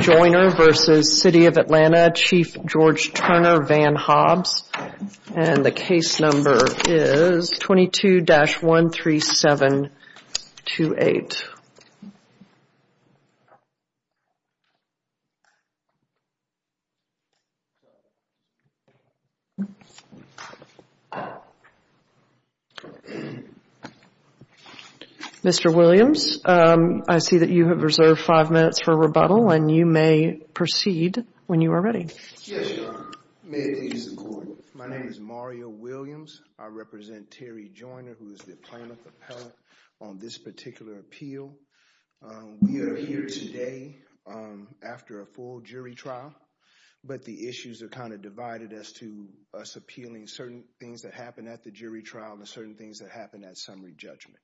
Joyner v. City of Atlanta Chief George Turner Van Hobbs and the case number is 22-13728. Mr. Williams, I see that you have reserved five minutes for rebuttal and you may proceed when you are ready. Yes, Your Honor. May it please the Court. My name is Mario Williams. I represent Terry Joyner, who is the plaintiff appellate on this particular appeal. We are here today after a full jury trial, but the issues are kind of divided as to us appealing certain things that happened at the jury trial and certain things that happened at summary judgment.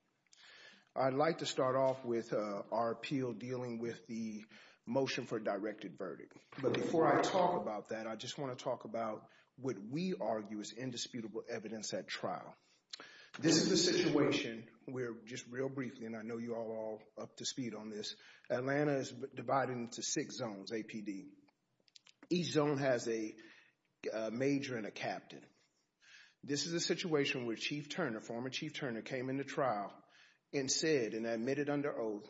I'd like to start off with our appeal dealing with the motion for directed verdict, but before I talk about that, I just want to talk about what we argue is indisputable evidence at trial. This is the situation where, just real briefly, and I know you are all up to speed on this, Atlanta is divided into six zones, APD. Each zone has a major and a captain. This is a situation where Chief Turner, former Chief Turner, came into trial and said and this is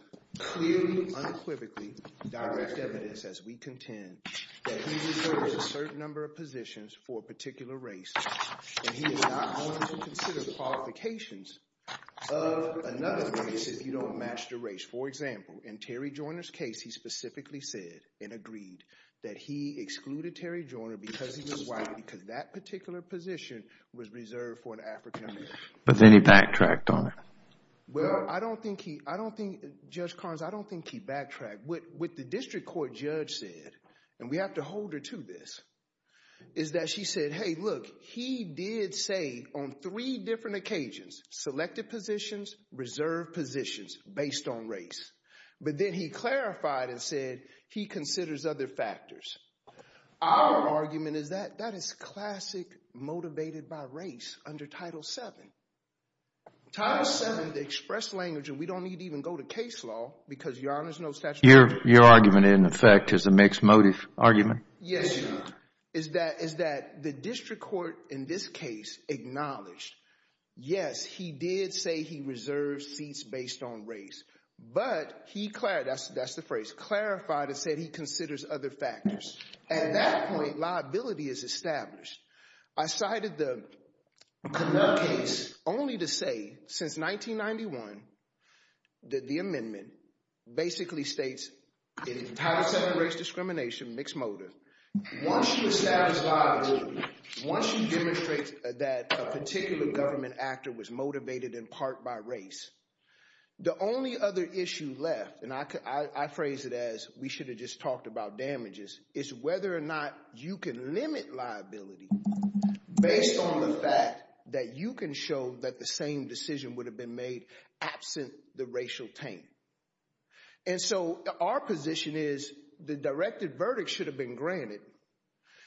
direct evidence, as we contend, that he reserves a certain number of positions for a particular race and he is not going to consider the qualifications of another race if you don't match the race. For example, in Terry Joyner's case, he specifically said and agreed that he excluded Terry Joyner because he was white, because that particular position was reserved for an African-American. But then he backtracked on it. Well, I don't think he, Judge Carnes, I don't think he backtracked. What the district court judge said, and we have to hold her to this, is that she said, hey, look, he did say on three different occasions, selected positions, reserved positions based on race. But then he clarified and said he considers other factors. Our argument is that that is classic motivated by race under Title VII. Title VII, the express language, and we don't need to even go to case law, because Your Honor's no statute of limitations. Your argument, in effect, is a mixed motive argument? Yes, Your Honor. Is that the district court, in this case, acknowledged, yes, he did say he reserved seats based on race, but he clarified, that's the phrase, clarified and said he considers other factors. At that point, liability is established. I cited the Connell case only to say, since 1991, that the amendment basically states in Title VII race discrimination, mixed motive, once you establish liability, once you demonstrate that a particular government actor was motivated in part by race, the only other issue left, and I phrase it as, we should have just talked about damages, is whether or not you can limit liability based on the fact that you can show that the same decision would have been made absent the racial taint. And so our position is, the directed verdict should have been granted.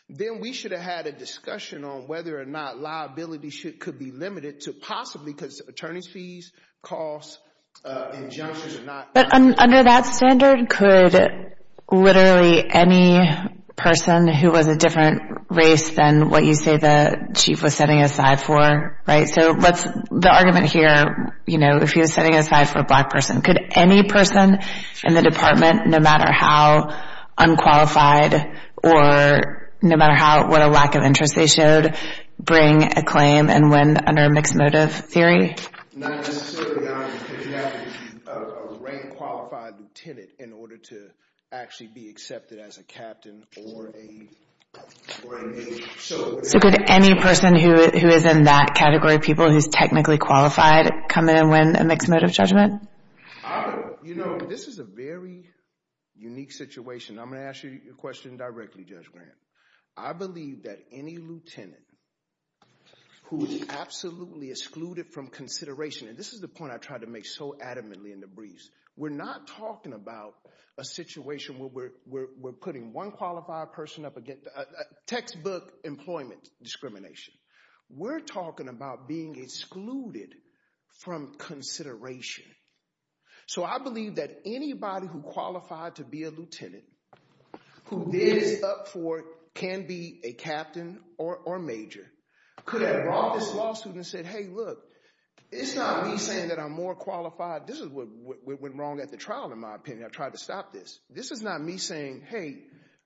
Then we should have had a discussion on whether or not liability could be limited to possibly, because attorney's fees, costs, injunctions, are not... But under that standard, could literally any person who was a different race than what you say the chief was setting aside for, right? So what's the argument here, you know, if he was setting aside for a black person, could any person in the department, no matter how unqualified or no matter what a lack of interest they showed, bring a claim and win under a mixed motive theory? Not necessarily, because you have to rank qualified lieutenant in order to actually be accepted as a captain or a... So could any person who is in that category of people who's technically qualified come in and win a mixed motive judgment? You know, this is a very unique situation. I'm going to ask you a question directly, Judge Graham. I believe that any lieutenant who is absolutely excluded from consideration, and this is the point I tried to make so adamantly in the briefs. We're not talking about a situation where we're putting one qualified person up against textbook employment discrimination. We're talking about being excluded from consideration. So I believe that anybody who qualified to be a lieutenant, who is up for, can be a captain or major, could have brought this lawsuit and said, hey, look, it's not me saying that I'm more qualified. This is what went wrong at the trial, in my opinion. I tried to stop this. This is not me saying, hey,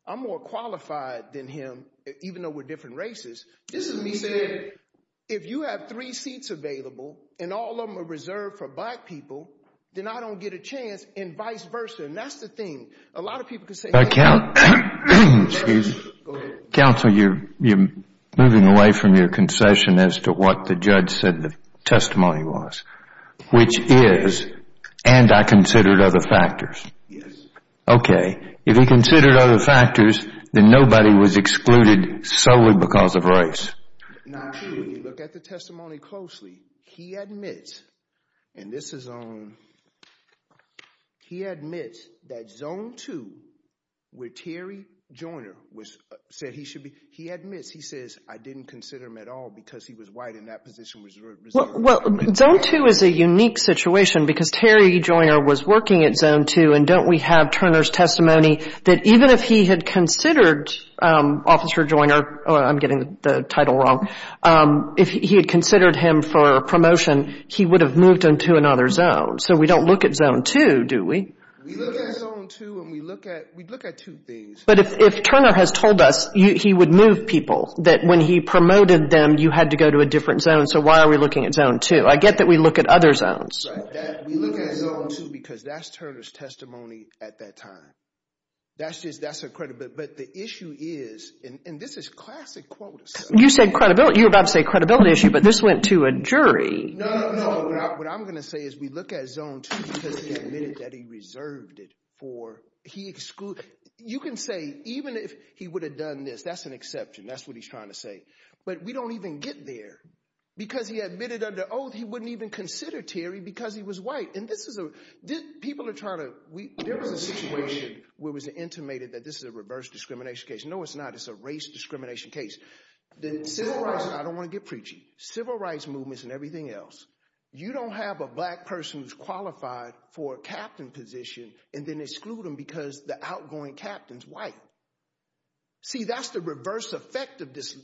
I'm more qualified than him, even though we're different races. This is me saying, if you have three seats available, and all of them are reserved for black people, then I don't get a chance, and vice versa. And that's the thing. A lot of people can say- But counsel, you're moving away from your concession as to what the judge said the testimony was, which is, and I considered other factors. Okay. If he considered other factors, then nobody was excluded solely because of race. Now, when you look at the testimony closely, he admits, and this is on, he admits that Zone 2, where Terry Joyner said he should be, he admits, he says, I didn't consider him at all because he was white and that position was reserved. Well, Zone 2 is a unique situation because Terry Joyner was working at Zone 2, and don't we have Turner's testimony that even if he had considered Officer Joyner, oh, I'm getting the title wrong, if he had considered him for promotion, he would have moved into another zone. So we don't look at Zone 2, do we? We look at Zone 2, and we look at, we look at two things. But if Turner has told us he would move people, that when he promoted them, you had to go to a different zone, so why are we looking at Zone 2? I get that we look at other zones. We look at Zone 2 because that's Turner's testimony at that time. That's just, that's a credit, but the issue is, and this is classic quota stuff. You said credibility, you were about to say credibility issue, but this went to a jury. No, no, no, what I'm going to say is we look at Zone 2 because he admitted that he reserved it for, he excluded, you can say even if he would have done this, that's an exception, that's what he's trying to say. But we don't even get there because he admitted under oath he wouldn't even consider Terry because he was white. And this is a, people are trying to, there was a situation where it was intimated that this is a reverse discrimination case. No, it's not, it's a race discrimination case. The civil rights, and I don't want to get preachy, civil rights movements and everything else, you don't have a black person who's qualified for a captain position and then exclude them because the outgoing captain's white. See, that's the reverse effect of this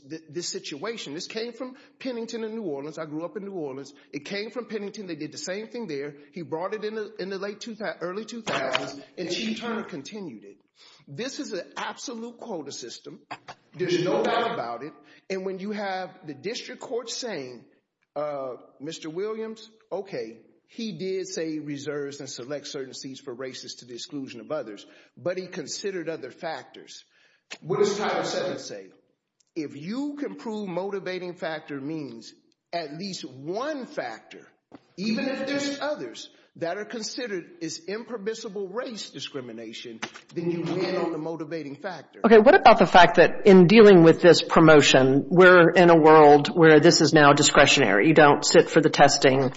situation. This came from Pennington and New Orleans. I grew up in New Orleans. It came from Pennington. They did the same thing there. He brought it in the late 2000s, early 2000s, and Chief Turner continued it. This is an absolute quota system. There's no doubt about it. And when you have the district court saying, Mr. Williams, okay, he did say he reserves and selects certain seats for races to the exclusion of others, but he considered other factors. What does Title VII say? If you can prove motivating factor means at least one factor, even if there's others, that are considered as impermissible race discrimination, then you land on the motivating factor. Okay, what about the fact that in dealing with this promotion, we're in a world where this is now discretionary. You don't sit for the testing.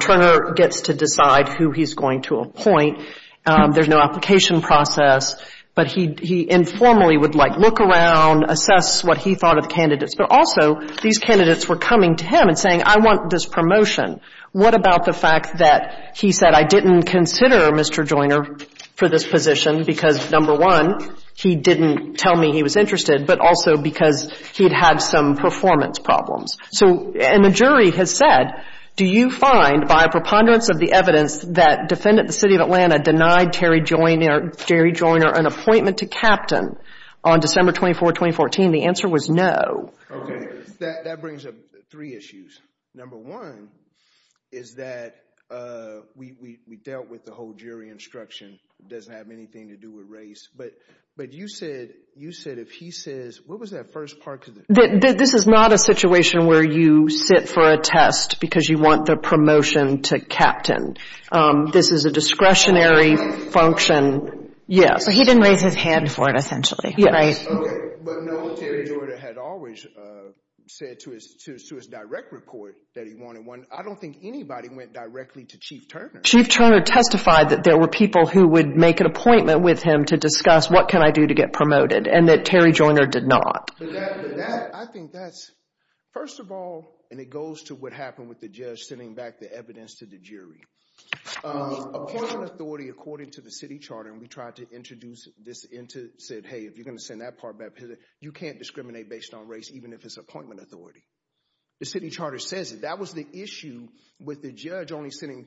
Turner gets to decide who he's going to appoint. There's no application process. But he informally would like look around, assess what he thought of the candidates. But also, these candidates were coming to him and saying, I want this promotion. What about the fact that he said, I didn't consider Mr. Joyner for this position because number one, he didn't tell me he was interested, but also because he'd had some performance problems. So, and the jury has said, do you find by a preponderance of the evidence that defendant the City of Atlanta denied Terry Joyner an appointment to captain on December 24, 2014? The answer was no. Okay, that brings up three issues. Number one is that we dealt with the whole jury instruction. It doesn't have anything to do with race. But you said if he says, what was that first part? This is not a situation where you sit for a test because you want the promotion to captain. This is a discretionary function. Yeah. So, he didn't raise his hand for it, essentially. Yeah. But knowing Terry Joyner had always said to his direct report that he wanted one, I don't think anybody went directly to Chief Turner. Chief Turner testified that there were people who would make an appointment with him to discuss what can I do to get promoted and that Terry Joyner did not. I think that's, first of all, and it goes to what happened with the judge sending back the evidence to the jury. Appointment authority, according to the city charter, and we tried to introduce this into, said, hey, if you're going to send that part back, you can't discriminate based on race, even if it's appointment authority. The city charter says it. That was the issue with the judge only sending,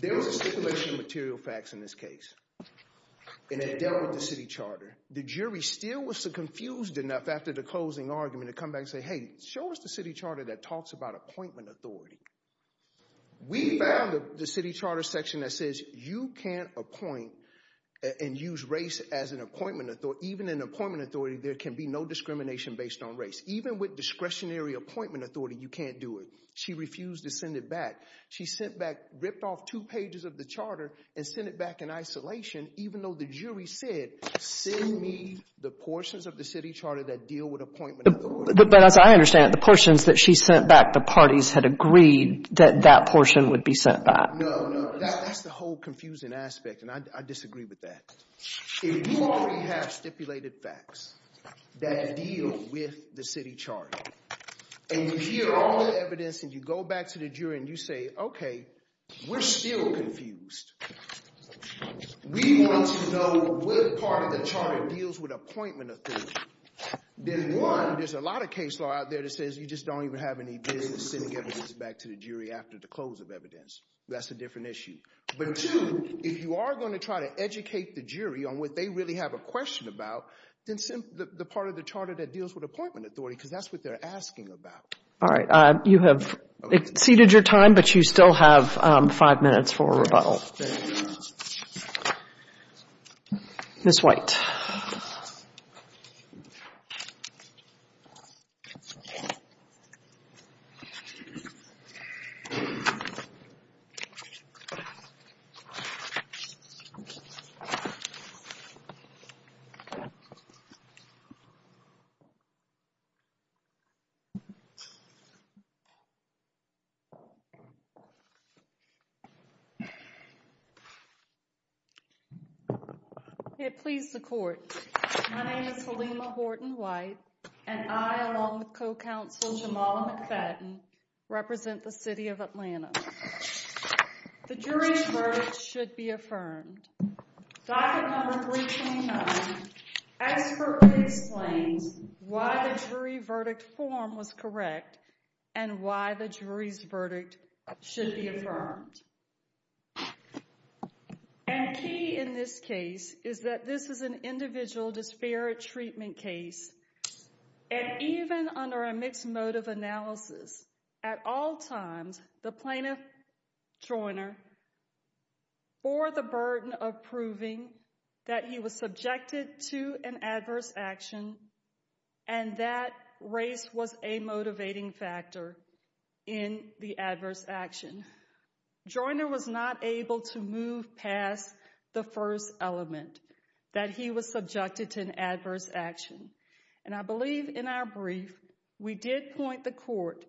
there was a stipulation of material facts in this case. And it dealt with the city charter. The jury still was confused enough after the closing argument to come back and say, hey, show us the city charter that talks about appointment authority. We found the city charter section that says you can't appoint and use race as an appointment authority. Even in appointment authority, there can be no discrimination based on race. Even with discretionary appointment authority, you can't do it. She refused to send it back. She sent back, ripped off two pages of the charter and sent it back in isolation, even though the jury said, send me the portions of the city charter that deal with appointment authority. But as I understand it, the portions that she sent back, the parties had agreed that that portion would be sent back. No, no, that's the whole confusing aspect, and I disagree with that. If you already have stipulated facts that deal with the city charter, and you hear all the evidence and you go back to the jury and you say, okay, we're still confused. We want to know what part of the charter deals with appointment authority. Then one, there's a lot of case law out there that says you just don't even have any business sending evidence back to the jury after the close of evidence. That's a different issue. But two, if you are going to try to educate the jury on what they really have a question about, then send the part of the charter that deals with appointment authority, because that's what they're asking about. All right. You have exceeded your time, but you still have five minutes for rebuttal. There you go. Ms. White. Okay. Please, the court. My name is Halima Horton White, and I, along with co-counsel Jamala McFadden, represent the city of Atlanta. The jury's verdict should be affirmed. Document number 329 expertly explains why the jury verdict form was correct and why the jury's verdict should be affirmed. And key in this case is that this is an individual disparate treatment case. And even under a mixed motive analysis, at all times, the plaintiff, Joyner, bore the burden of proving that he was subjected to an adverse action and that race was a motivating factor in the adverse action. Joyner was not able to move past the first element, that he was subjected to an adverse action. And I believe in our brief, we did point the court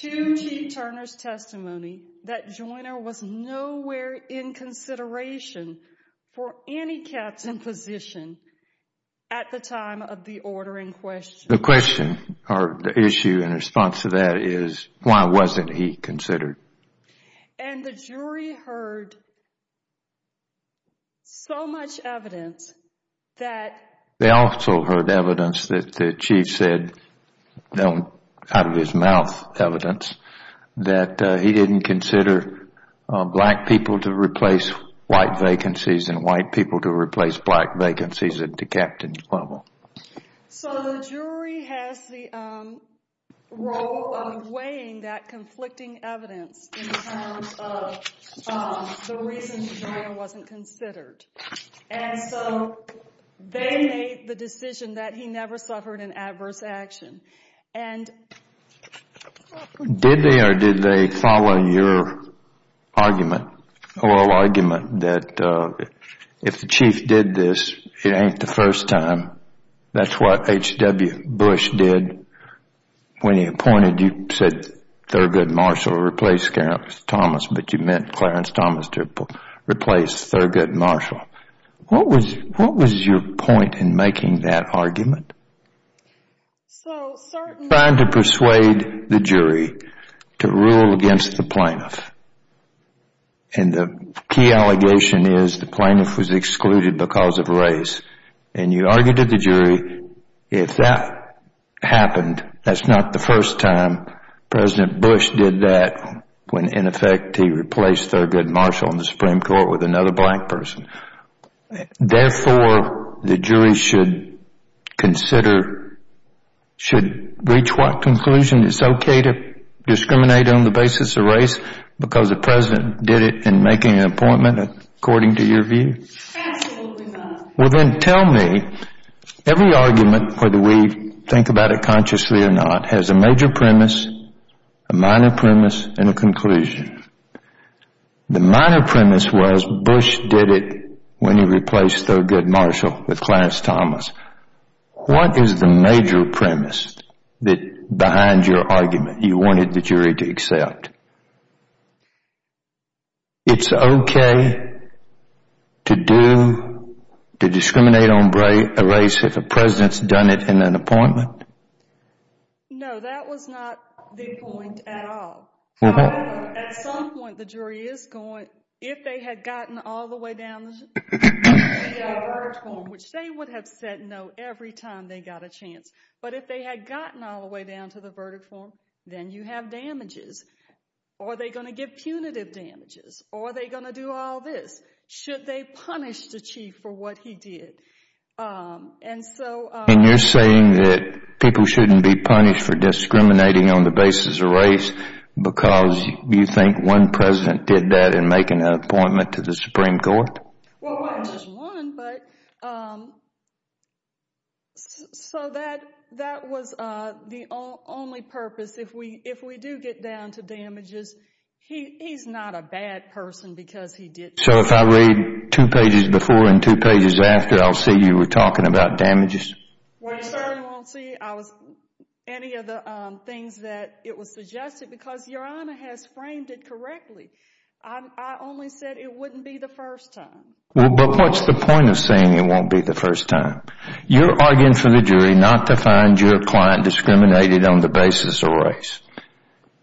to T. Turner's testimony that Joyner was nowhere in consideration for any captain position at the time of the order in question. The question, or the issue in response to that is, why wasn't he considered? And the jury heard so much evidence that... They also heard evidence that the chief said, out of his mouth evidence, that he didn't consider black people to replace white vacancies and white people to replace black vacancies at the captain's level. So the jury has the role of weighing that conflicting evidence in terms of the reasons Joyner wasn't considered. And so they made the decision that he never suffered an adverse action. And... Did they or did they follow your argument, oral argument, that if the chief did this, it ain't the first time? That's what H.W. Bush did when he appointed, you said Thurgood Marshall replaced Clarence Thomas, but you meant Clarence Thomas to replace Thurgood Marshall. What was your point in making that argument? Trying to persuade the jury to rule against the plaintiff. And the key allegation is the plaintiff was excluded because of race. And you argued to the jury, if that happened, that's not the first time President Bush did that when, in effect, he replaced Thurgood Marshall in the Supreme Court with another black person. Therefore, the jury should consider, should reach what conclusion? It's okay to discriminate on the basis of race because the president did it in making an appointment according to your view? Well, then tell me, every argument, whether we think about it consciously or not, has a major premise, a minor premise, and a conclusion. The minor premise was Bush did it when he replaced Thurgood Marshall with Clarence Thomas. What is the major premise behind your argument you wanted the jury to accept? It's okay to discriminate on race if a president's done it in an appointment? No, that was not the point at all. However, at some point, the jury is going, if they had gotten all the way down to the verdict form, then you have damages. Are they going to give punitive damages? Are they going to do all this? Should they punish the chief for what he did? And you're saying that people shouldn't be punished for discriminating on the basis of race because you think one president did that in making an appointment to the Supreme Court? Well, not just one, but... So that was the only purpose. If we do get down to damages, he's not a bad person because he did... So if I read two pages before and two pages after, I'll see you were talking about damages? Well, you certainly won't see any of the things that it was suggested because Your Honor has framed it correctly. I only said it wouldn't be the first time. Well, but what's the point of saying it won't be the first time? You're arguing for the jury not to find your client discriminated on the basis of race.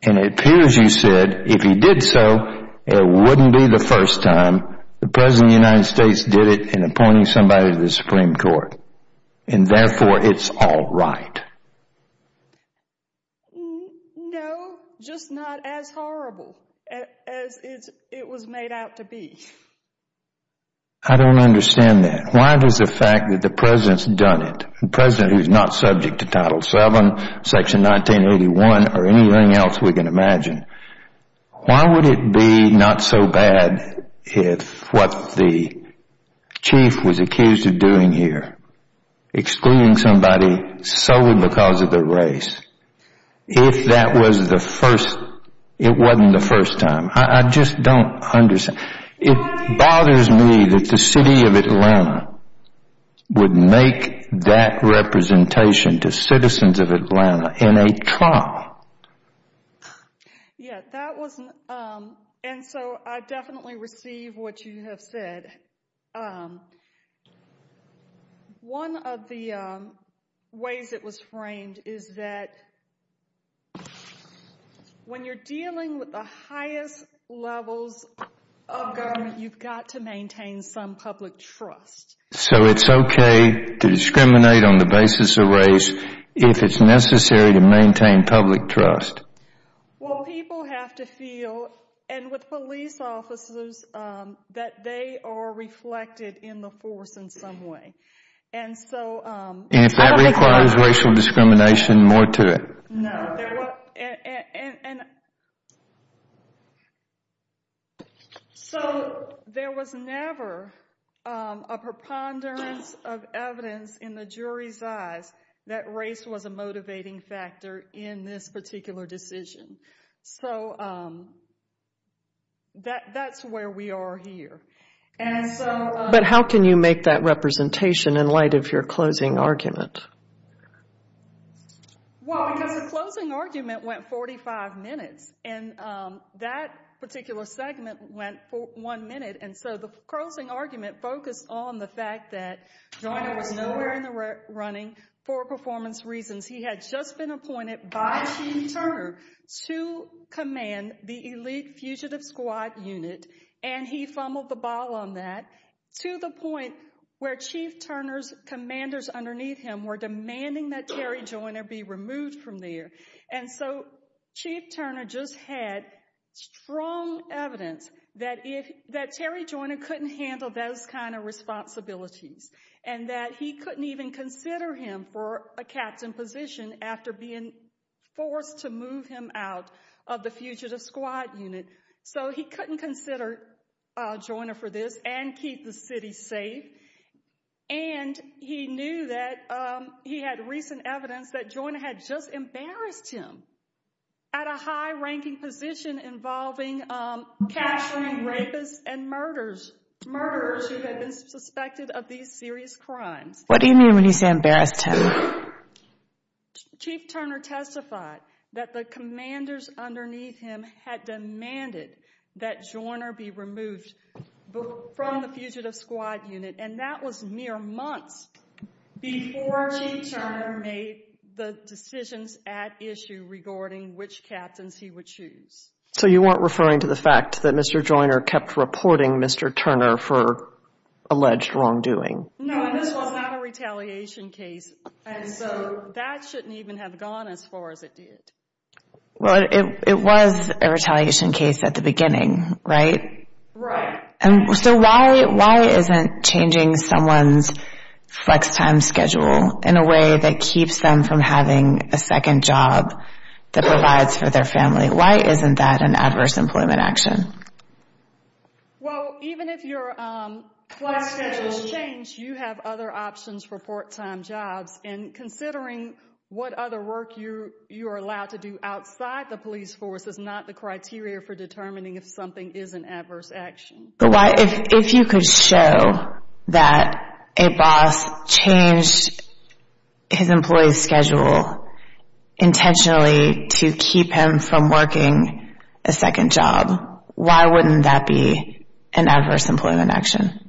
And it appears you said if he did so, it wouldn't be the first time the president of the United States did it in appointing somebody to the Supreme Court. And therefore, it's all right. No, just not as horrible. As it was made out to be. I don't understand that. Why does the fact that the president's done it, the president who's not subject to Title VII, Section 1981, or anything else we can imagine, why would it be not so bad if what the chief was accused of doing here, excluding somebody solely because of their race, if that was the first, it wasn't the first time? I just don't understand. It bothers me that the city of Atlanta would make that representation to citizens of Atlanta in a trial. Yeah, that was, and so I definitely receive what you have said. And one of the ways it was framed is that when you're dealing with the highest levels of government, you've got to maintain some public trust. So it's okay to discriminate on the basis of race if it's necessary to maintain public trust? Well, people have to feel, and with police officers, that they are reflected in the force in some way. And if that requires racial discrimination, more to it. No, and so there was never a preponderance of evidence in the jury's eyes that race was a motivating factor in this particular decision. So that's where we are here. But how can you make that representation in light of your closing argument? Well, because the closing argument went 45 minutes, and that particular segment went one minute. And so the closing argument focused on the fact that Joyner was nowhere in the running for performance reasons. He had just been appointed by Chief Turner to command the elite fugitive squad unit, and he fumbled the ball on that to the point where Chief Turner's commanders underneath him were demanding that Terry Joyner be removed from there. And so Chief Turner just had strong evidence that Terry Joyner couldn't handle those kind of responsibilities, and that he couldn't even consider him for a captain position after being forced to move him out of the fugitive squad unit. So he couldn't consider Joyner for this and keep the city safe. And he knew that he had recent evidence that Joyner had just embarrassed him at a high of these serious crimes. What do you mean when you say embarrassed him? Chief Turner testified that the commanders underneath him had demanded that Joyner be removed from the fugitive squad unit, and that was mere months before Chief Turner made the decisions at issue regarding which captains he would choose. So you weren't referring to the fact that Mr. Joyner kept reporting Mr. Turner for alleged wrongdoing? No, and this was not a retaliation case, and so that shouldn't even have gone as far as it did. Well, it was a retaliation case at the beginning, right? Right. And so why isn't changing someone's flex time schedule in a way that keeps them from having a second job that provides for their family, why isn't that an adverse employment action? Well, even if your flex schedule is changed, you have other options for part-time jobs, and considering what other work you are allowed to do outside the police force is not the criteria for determining if something is an adverse action. But why, if you could show that a boss changed his employee's schedule intentionally to keep him from working a second job, why wouldn't that be an adverse employment action?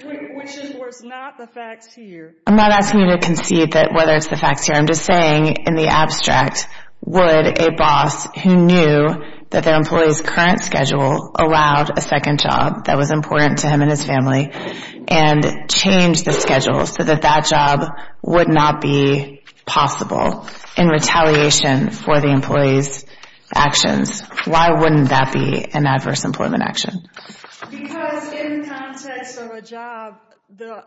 Which is not the facts here. I'm not asking you to concede that whether it's the facts here, I'm just saying in the abstract, would a boss who knew that their employee's current schedule allowed a second job that was important to him and his family, and change the schedule so that that job would not be an adverse employment action, why wouldn't that be an adverse employment action? Because in the context of a job, the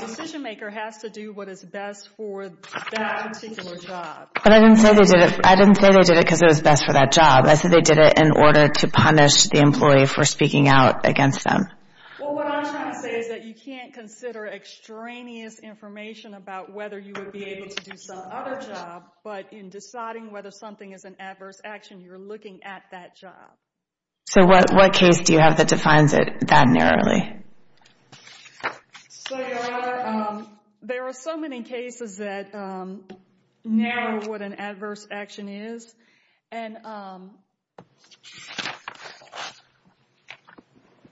decision maker has to do what is best for that particular job. But I didn't say they did it because it was best for that job. I said they did it in order to punish the employee for speaking out against them. Well, what I'm trying to say is that you can't consider extraneous information about whether you would be able to do some other job, but in deciding whether something is an adverse action, you're looking at that job. So what case do you have that defines it that narrowly? So there are so many cases that narrow what an adverse action is.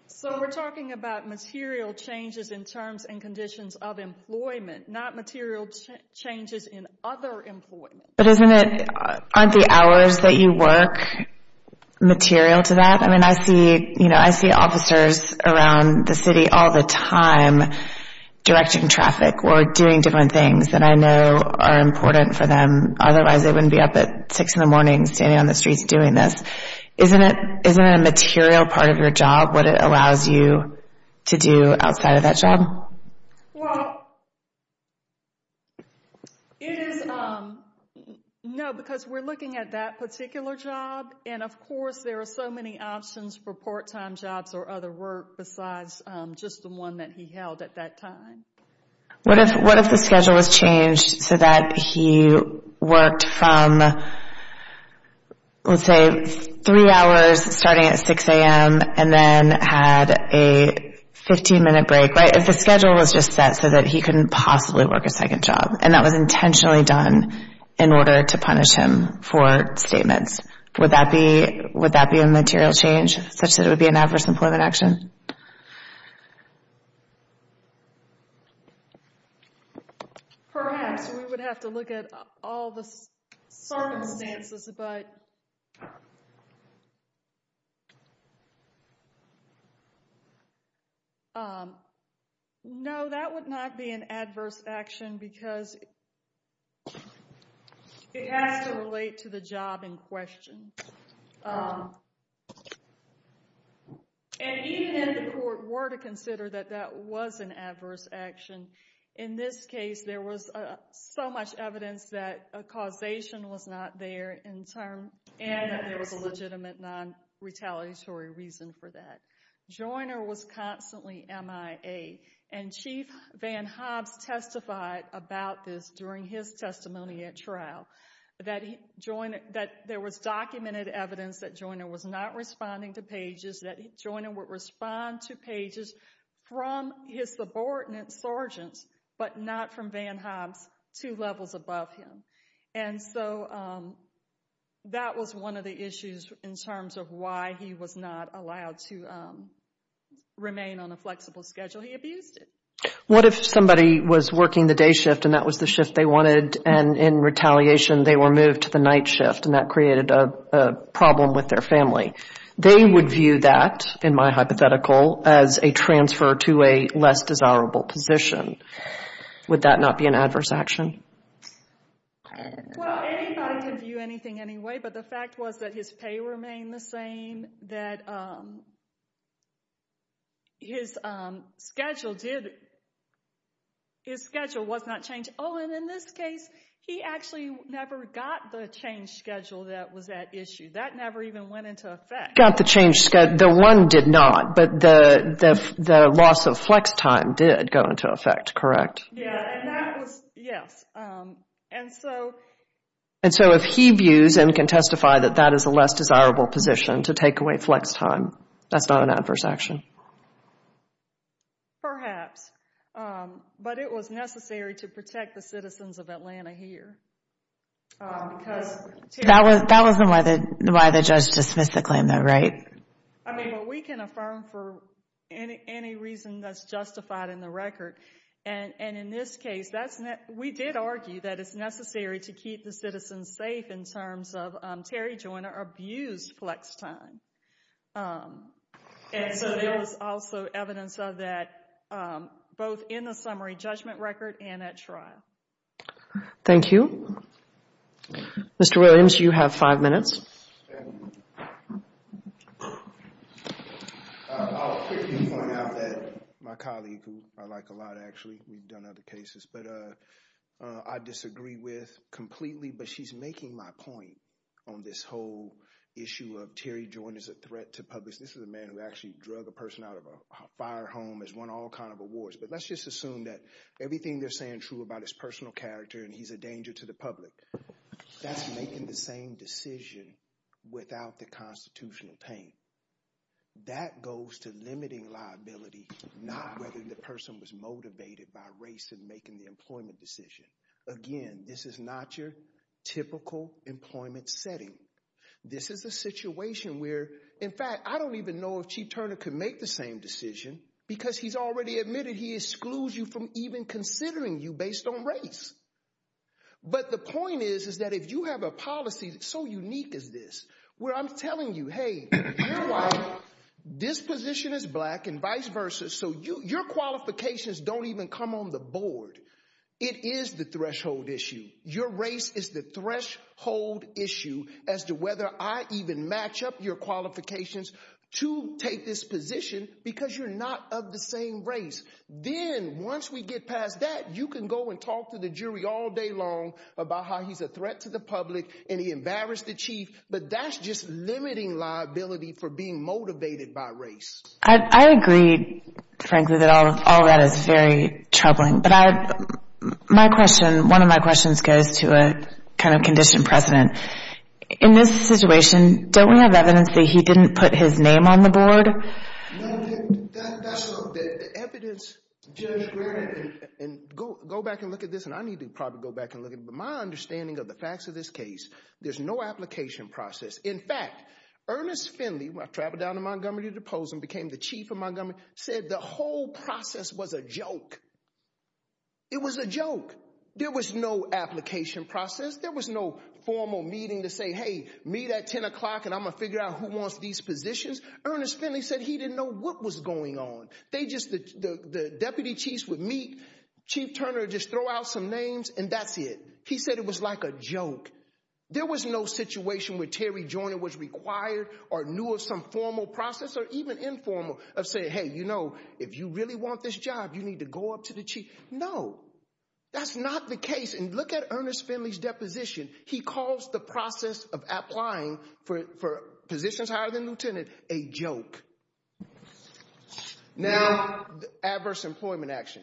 So we're talking about material changes in terms and conditions of employment, not material changes in other employment. But aren't the hours that you work material to that? I mean, I see officers around the city all the time directing traffic or doing different things that I know are important for them. Otherwise, they wouldn't be up at 6 in the morning standing on the streets doing this. Isn't a material part of your job what it allows you to do outside of that job? Well, no, because we're looking at that particular job. And of course, there are so many options for part-time jobs or other work besides just the one that he held at that time. What if the schedule was changed so that he worked from, let's say, three hours starting at 6 a.m. and then had a 15-minute break, right? If the schedule was just set so that he couldn't possibly work a second job and that was intentionally done in order to punish him for statements, would that be a material change such that it would be an adverse employment action? Perhaps, we would have to look at all the circumstances, but no, that would not be an adverse action because it has to relate to the job in question. And even if the court were to consider that that was an adverse action, in this case, there was so much evidence that a causation was not there and that there was a legitimate non-retaliatory reason for that. Joiner was constantly MIA, and Chief Van Hobbs testified about this during his testimony at trial, that there was documented evidence that Joiner was not responding to pages, that Joiner would respond to pages from his subordinate sergeants, but not from Van Hobbs two levels above him. And so, that was one of the issues in terms of why he was not allowed to remain on a flexible schedule. He abused it. What if somebody was working the day shift and that was the shift they wanted, and in retaliation, they were moved to the night shift and that created a problem with their family? They would view that, in my hypothetical, as a transfer to a less desirable position. Would that not be an adverse action? Well, anybody can view anything anyway, but the fact was that his pay remained the same, that his schedule was not changed. Oh, and in this case, he actually never got the change schedule that was at issue. That never even went into effect. Got the change schedule. The one did not, but the loss of flex time did go into effect, correct? Yeah, and that was, yes. And so... And so, if he views and can testify that that is a less desirable position to take away flex time, that's not an adverse action? Perhaps, but it was necessary to protect the citizens of Atlanta here because... That wasn't why the judge dismissed the claim, though, right? I mean, but we can affirm for any reason that's justified in the record, and in this case, we did argue that it's necessary to keep the citizens safe in terms of Terry Joyner abused flex time. And so, there was also evidence of that, both in the summary judgment record and at trial. Thank you. Mr. Williams, you have five minutes. I'll quickly point out that my colleague, who I like a lot, actually, we've done other cases, but I disagree with completely, but she's making my point on this whole issue of Terry Joyner's a threat to public. This is a man who actually drug a person out of a fire home, has won all kind of awards. But let's just assume that everything they're saying true about his personal character, and he's a danger to the public, that's making the same decision without the constitutional pain. That goes to limiting liability, not whether the person was motivated by race and making the employment decision. Again, this is not your typical employment setting. This is a situation where, in fact, I don't even know if Chief Turner could make the same decision, because he's already admitted he excludes you from even considering you based on race. But the point is, is that if you have a policy that's so unique as this, where I'm telling you, hey, you're white, this position is black, and vice versa, so your qualifications don't even come on the board. It is the threshold issue. Your race is the threshold issue as to whether I even match up your qualifications to take this position, because you're not of the same race. Then once we get past that, you can go and talk to the jury all day long about how he's a threat to the public, and he embarrassed the chief. But that's just limiting liability for being motivated by race. I agree, frankly, that all of that is very troubling. But my question, one of my questions goes to a kind of conditioned precedent. In this situation, don't we have evidence that he didn't put his name on the board? No, that's not the evidence. Judge, go back and look at this, and I need to probably go back and look at it. My understanding of the facts of this case, there's no application process. In fact, Ernest Finley, when I traveled down to Montgomery to do the polls and became the chief of Montgomery, said the whole process was a joke. It was a joke. There was no application process. There was no formal meeting to say, hey, meet at 10 o'clock, and I'm going to figure out who wants these positions. Ernest Finley said he didn't know what was going on. The deputy chiefs would meet, Chief Turner would just throw out some names, and that's it. He said it was like a joke. There was no situation where Terry Joyner was required or knew of some formal process or even informal of saying, hey, you know, if you really want this job, you need to go up to the chief. No, that's not the case. And look at Ernest Finley's deposition. He calls the process of applying for positions higher than lieutenant a joke. Now, adverse employment action.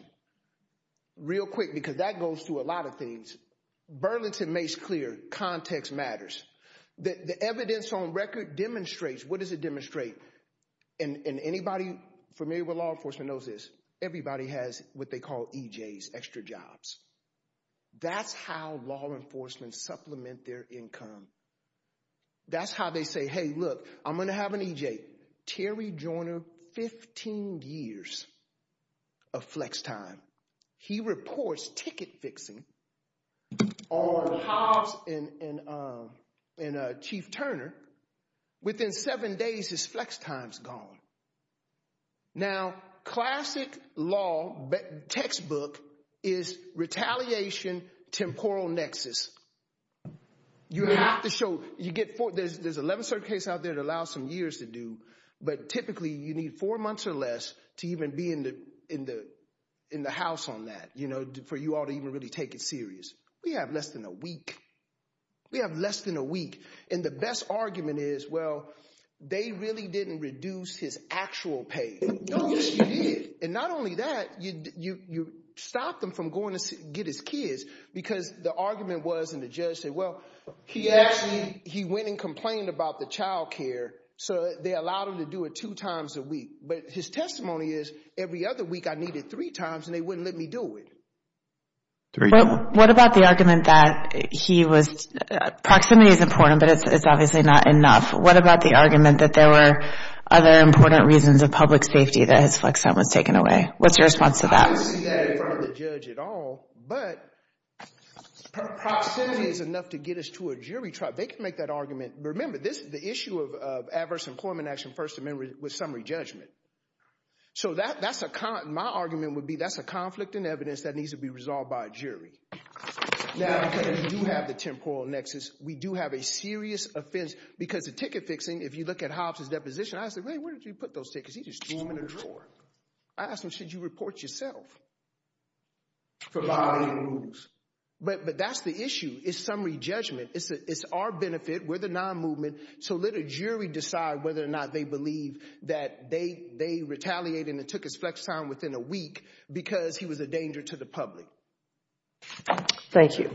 Real quick, because that goes through a lot of things. Burlington makes clear context matters. The evidence on record demonstrates, what does it demonstrate? And anybody familiar with law enforcement knows this. Everybody has what they call EJs, extra jobs. That's how law enforcement supplement their income. That's how they say, hey, look, I'm going to have an EJ. Terry Joyner, 15 years of flex time. He reports ticket fixing on behalf of Chief Turner. Within seven days, his flex time's gone. Now, classic law textbook is retaliation temporal nexus. You have to show you get there's 11 circuits out there that allow some years to do. But typically, you need four months or less to even be in the in the in the house on that, you know, for you all to even really take it serious. We have less than a week. We have less than a week. And the best argument is, well, they really didn't reduce his actual pay. No, and not only that, you stop them from going to get his kids, because the argument was and the judge said, well, he actually he went and complained about the child care. So they allowed him to do it two times a week. But his testimony is every other week, I need it three times and they wouldn't let me do it. What about the argument that he was proximity is important, but it's obviously not enough. What about the argument that there were other important reasons of public safety that his flex time was taken away? What's your response to that? The judge at all, but proximity is enough to get us to a jury trial. They can make that argument. Remember, this is the issue of adverse employment action. First Amendment was summary judgment. So that that's a my argument would be that's a conflict in evidence that needs to be resolved by a jury. Now, we do have the temporal nexus. We do have a serious offense because the ticket fixing, if you look at Hobbs's deposition, He just threw them in a drawer. I asked him, should you report yourself? But that's the issue is summary judgment. It's our benefit. We're the non-movement. So let a jury decide whether or not they believe that they retaliated and took his flex time within a week because he was a danger to the public. Thank you.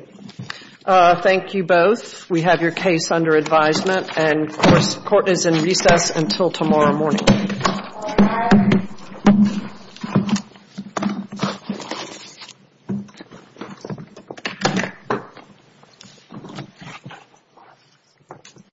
Thank you both. We have your case under advisement. And of course, court is in recess until tomorrow morning. Thank you.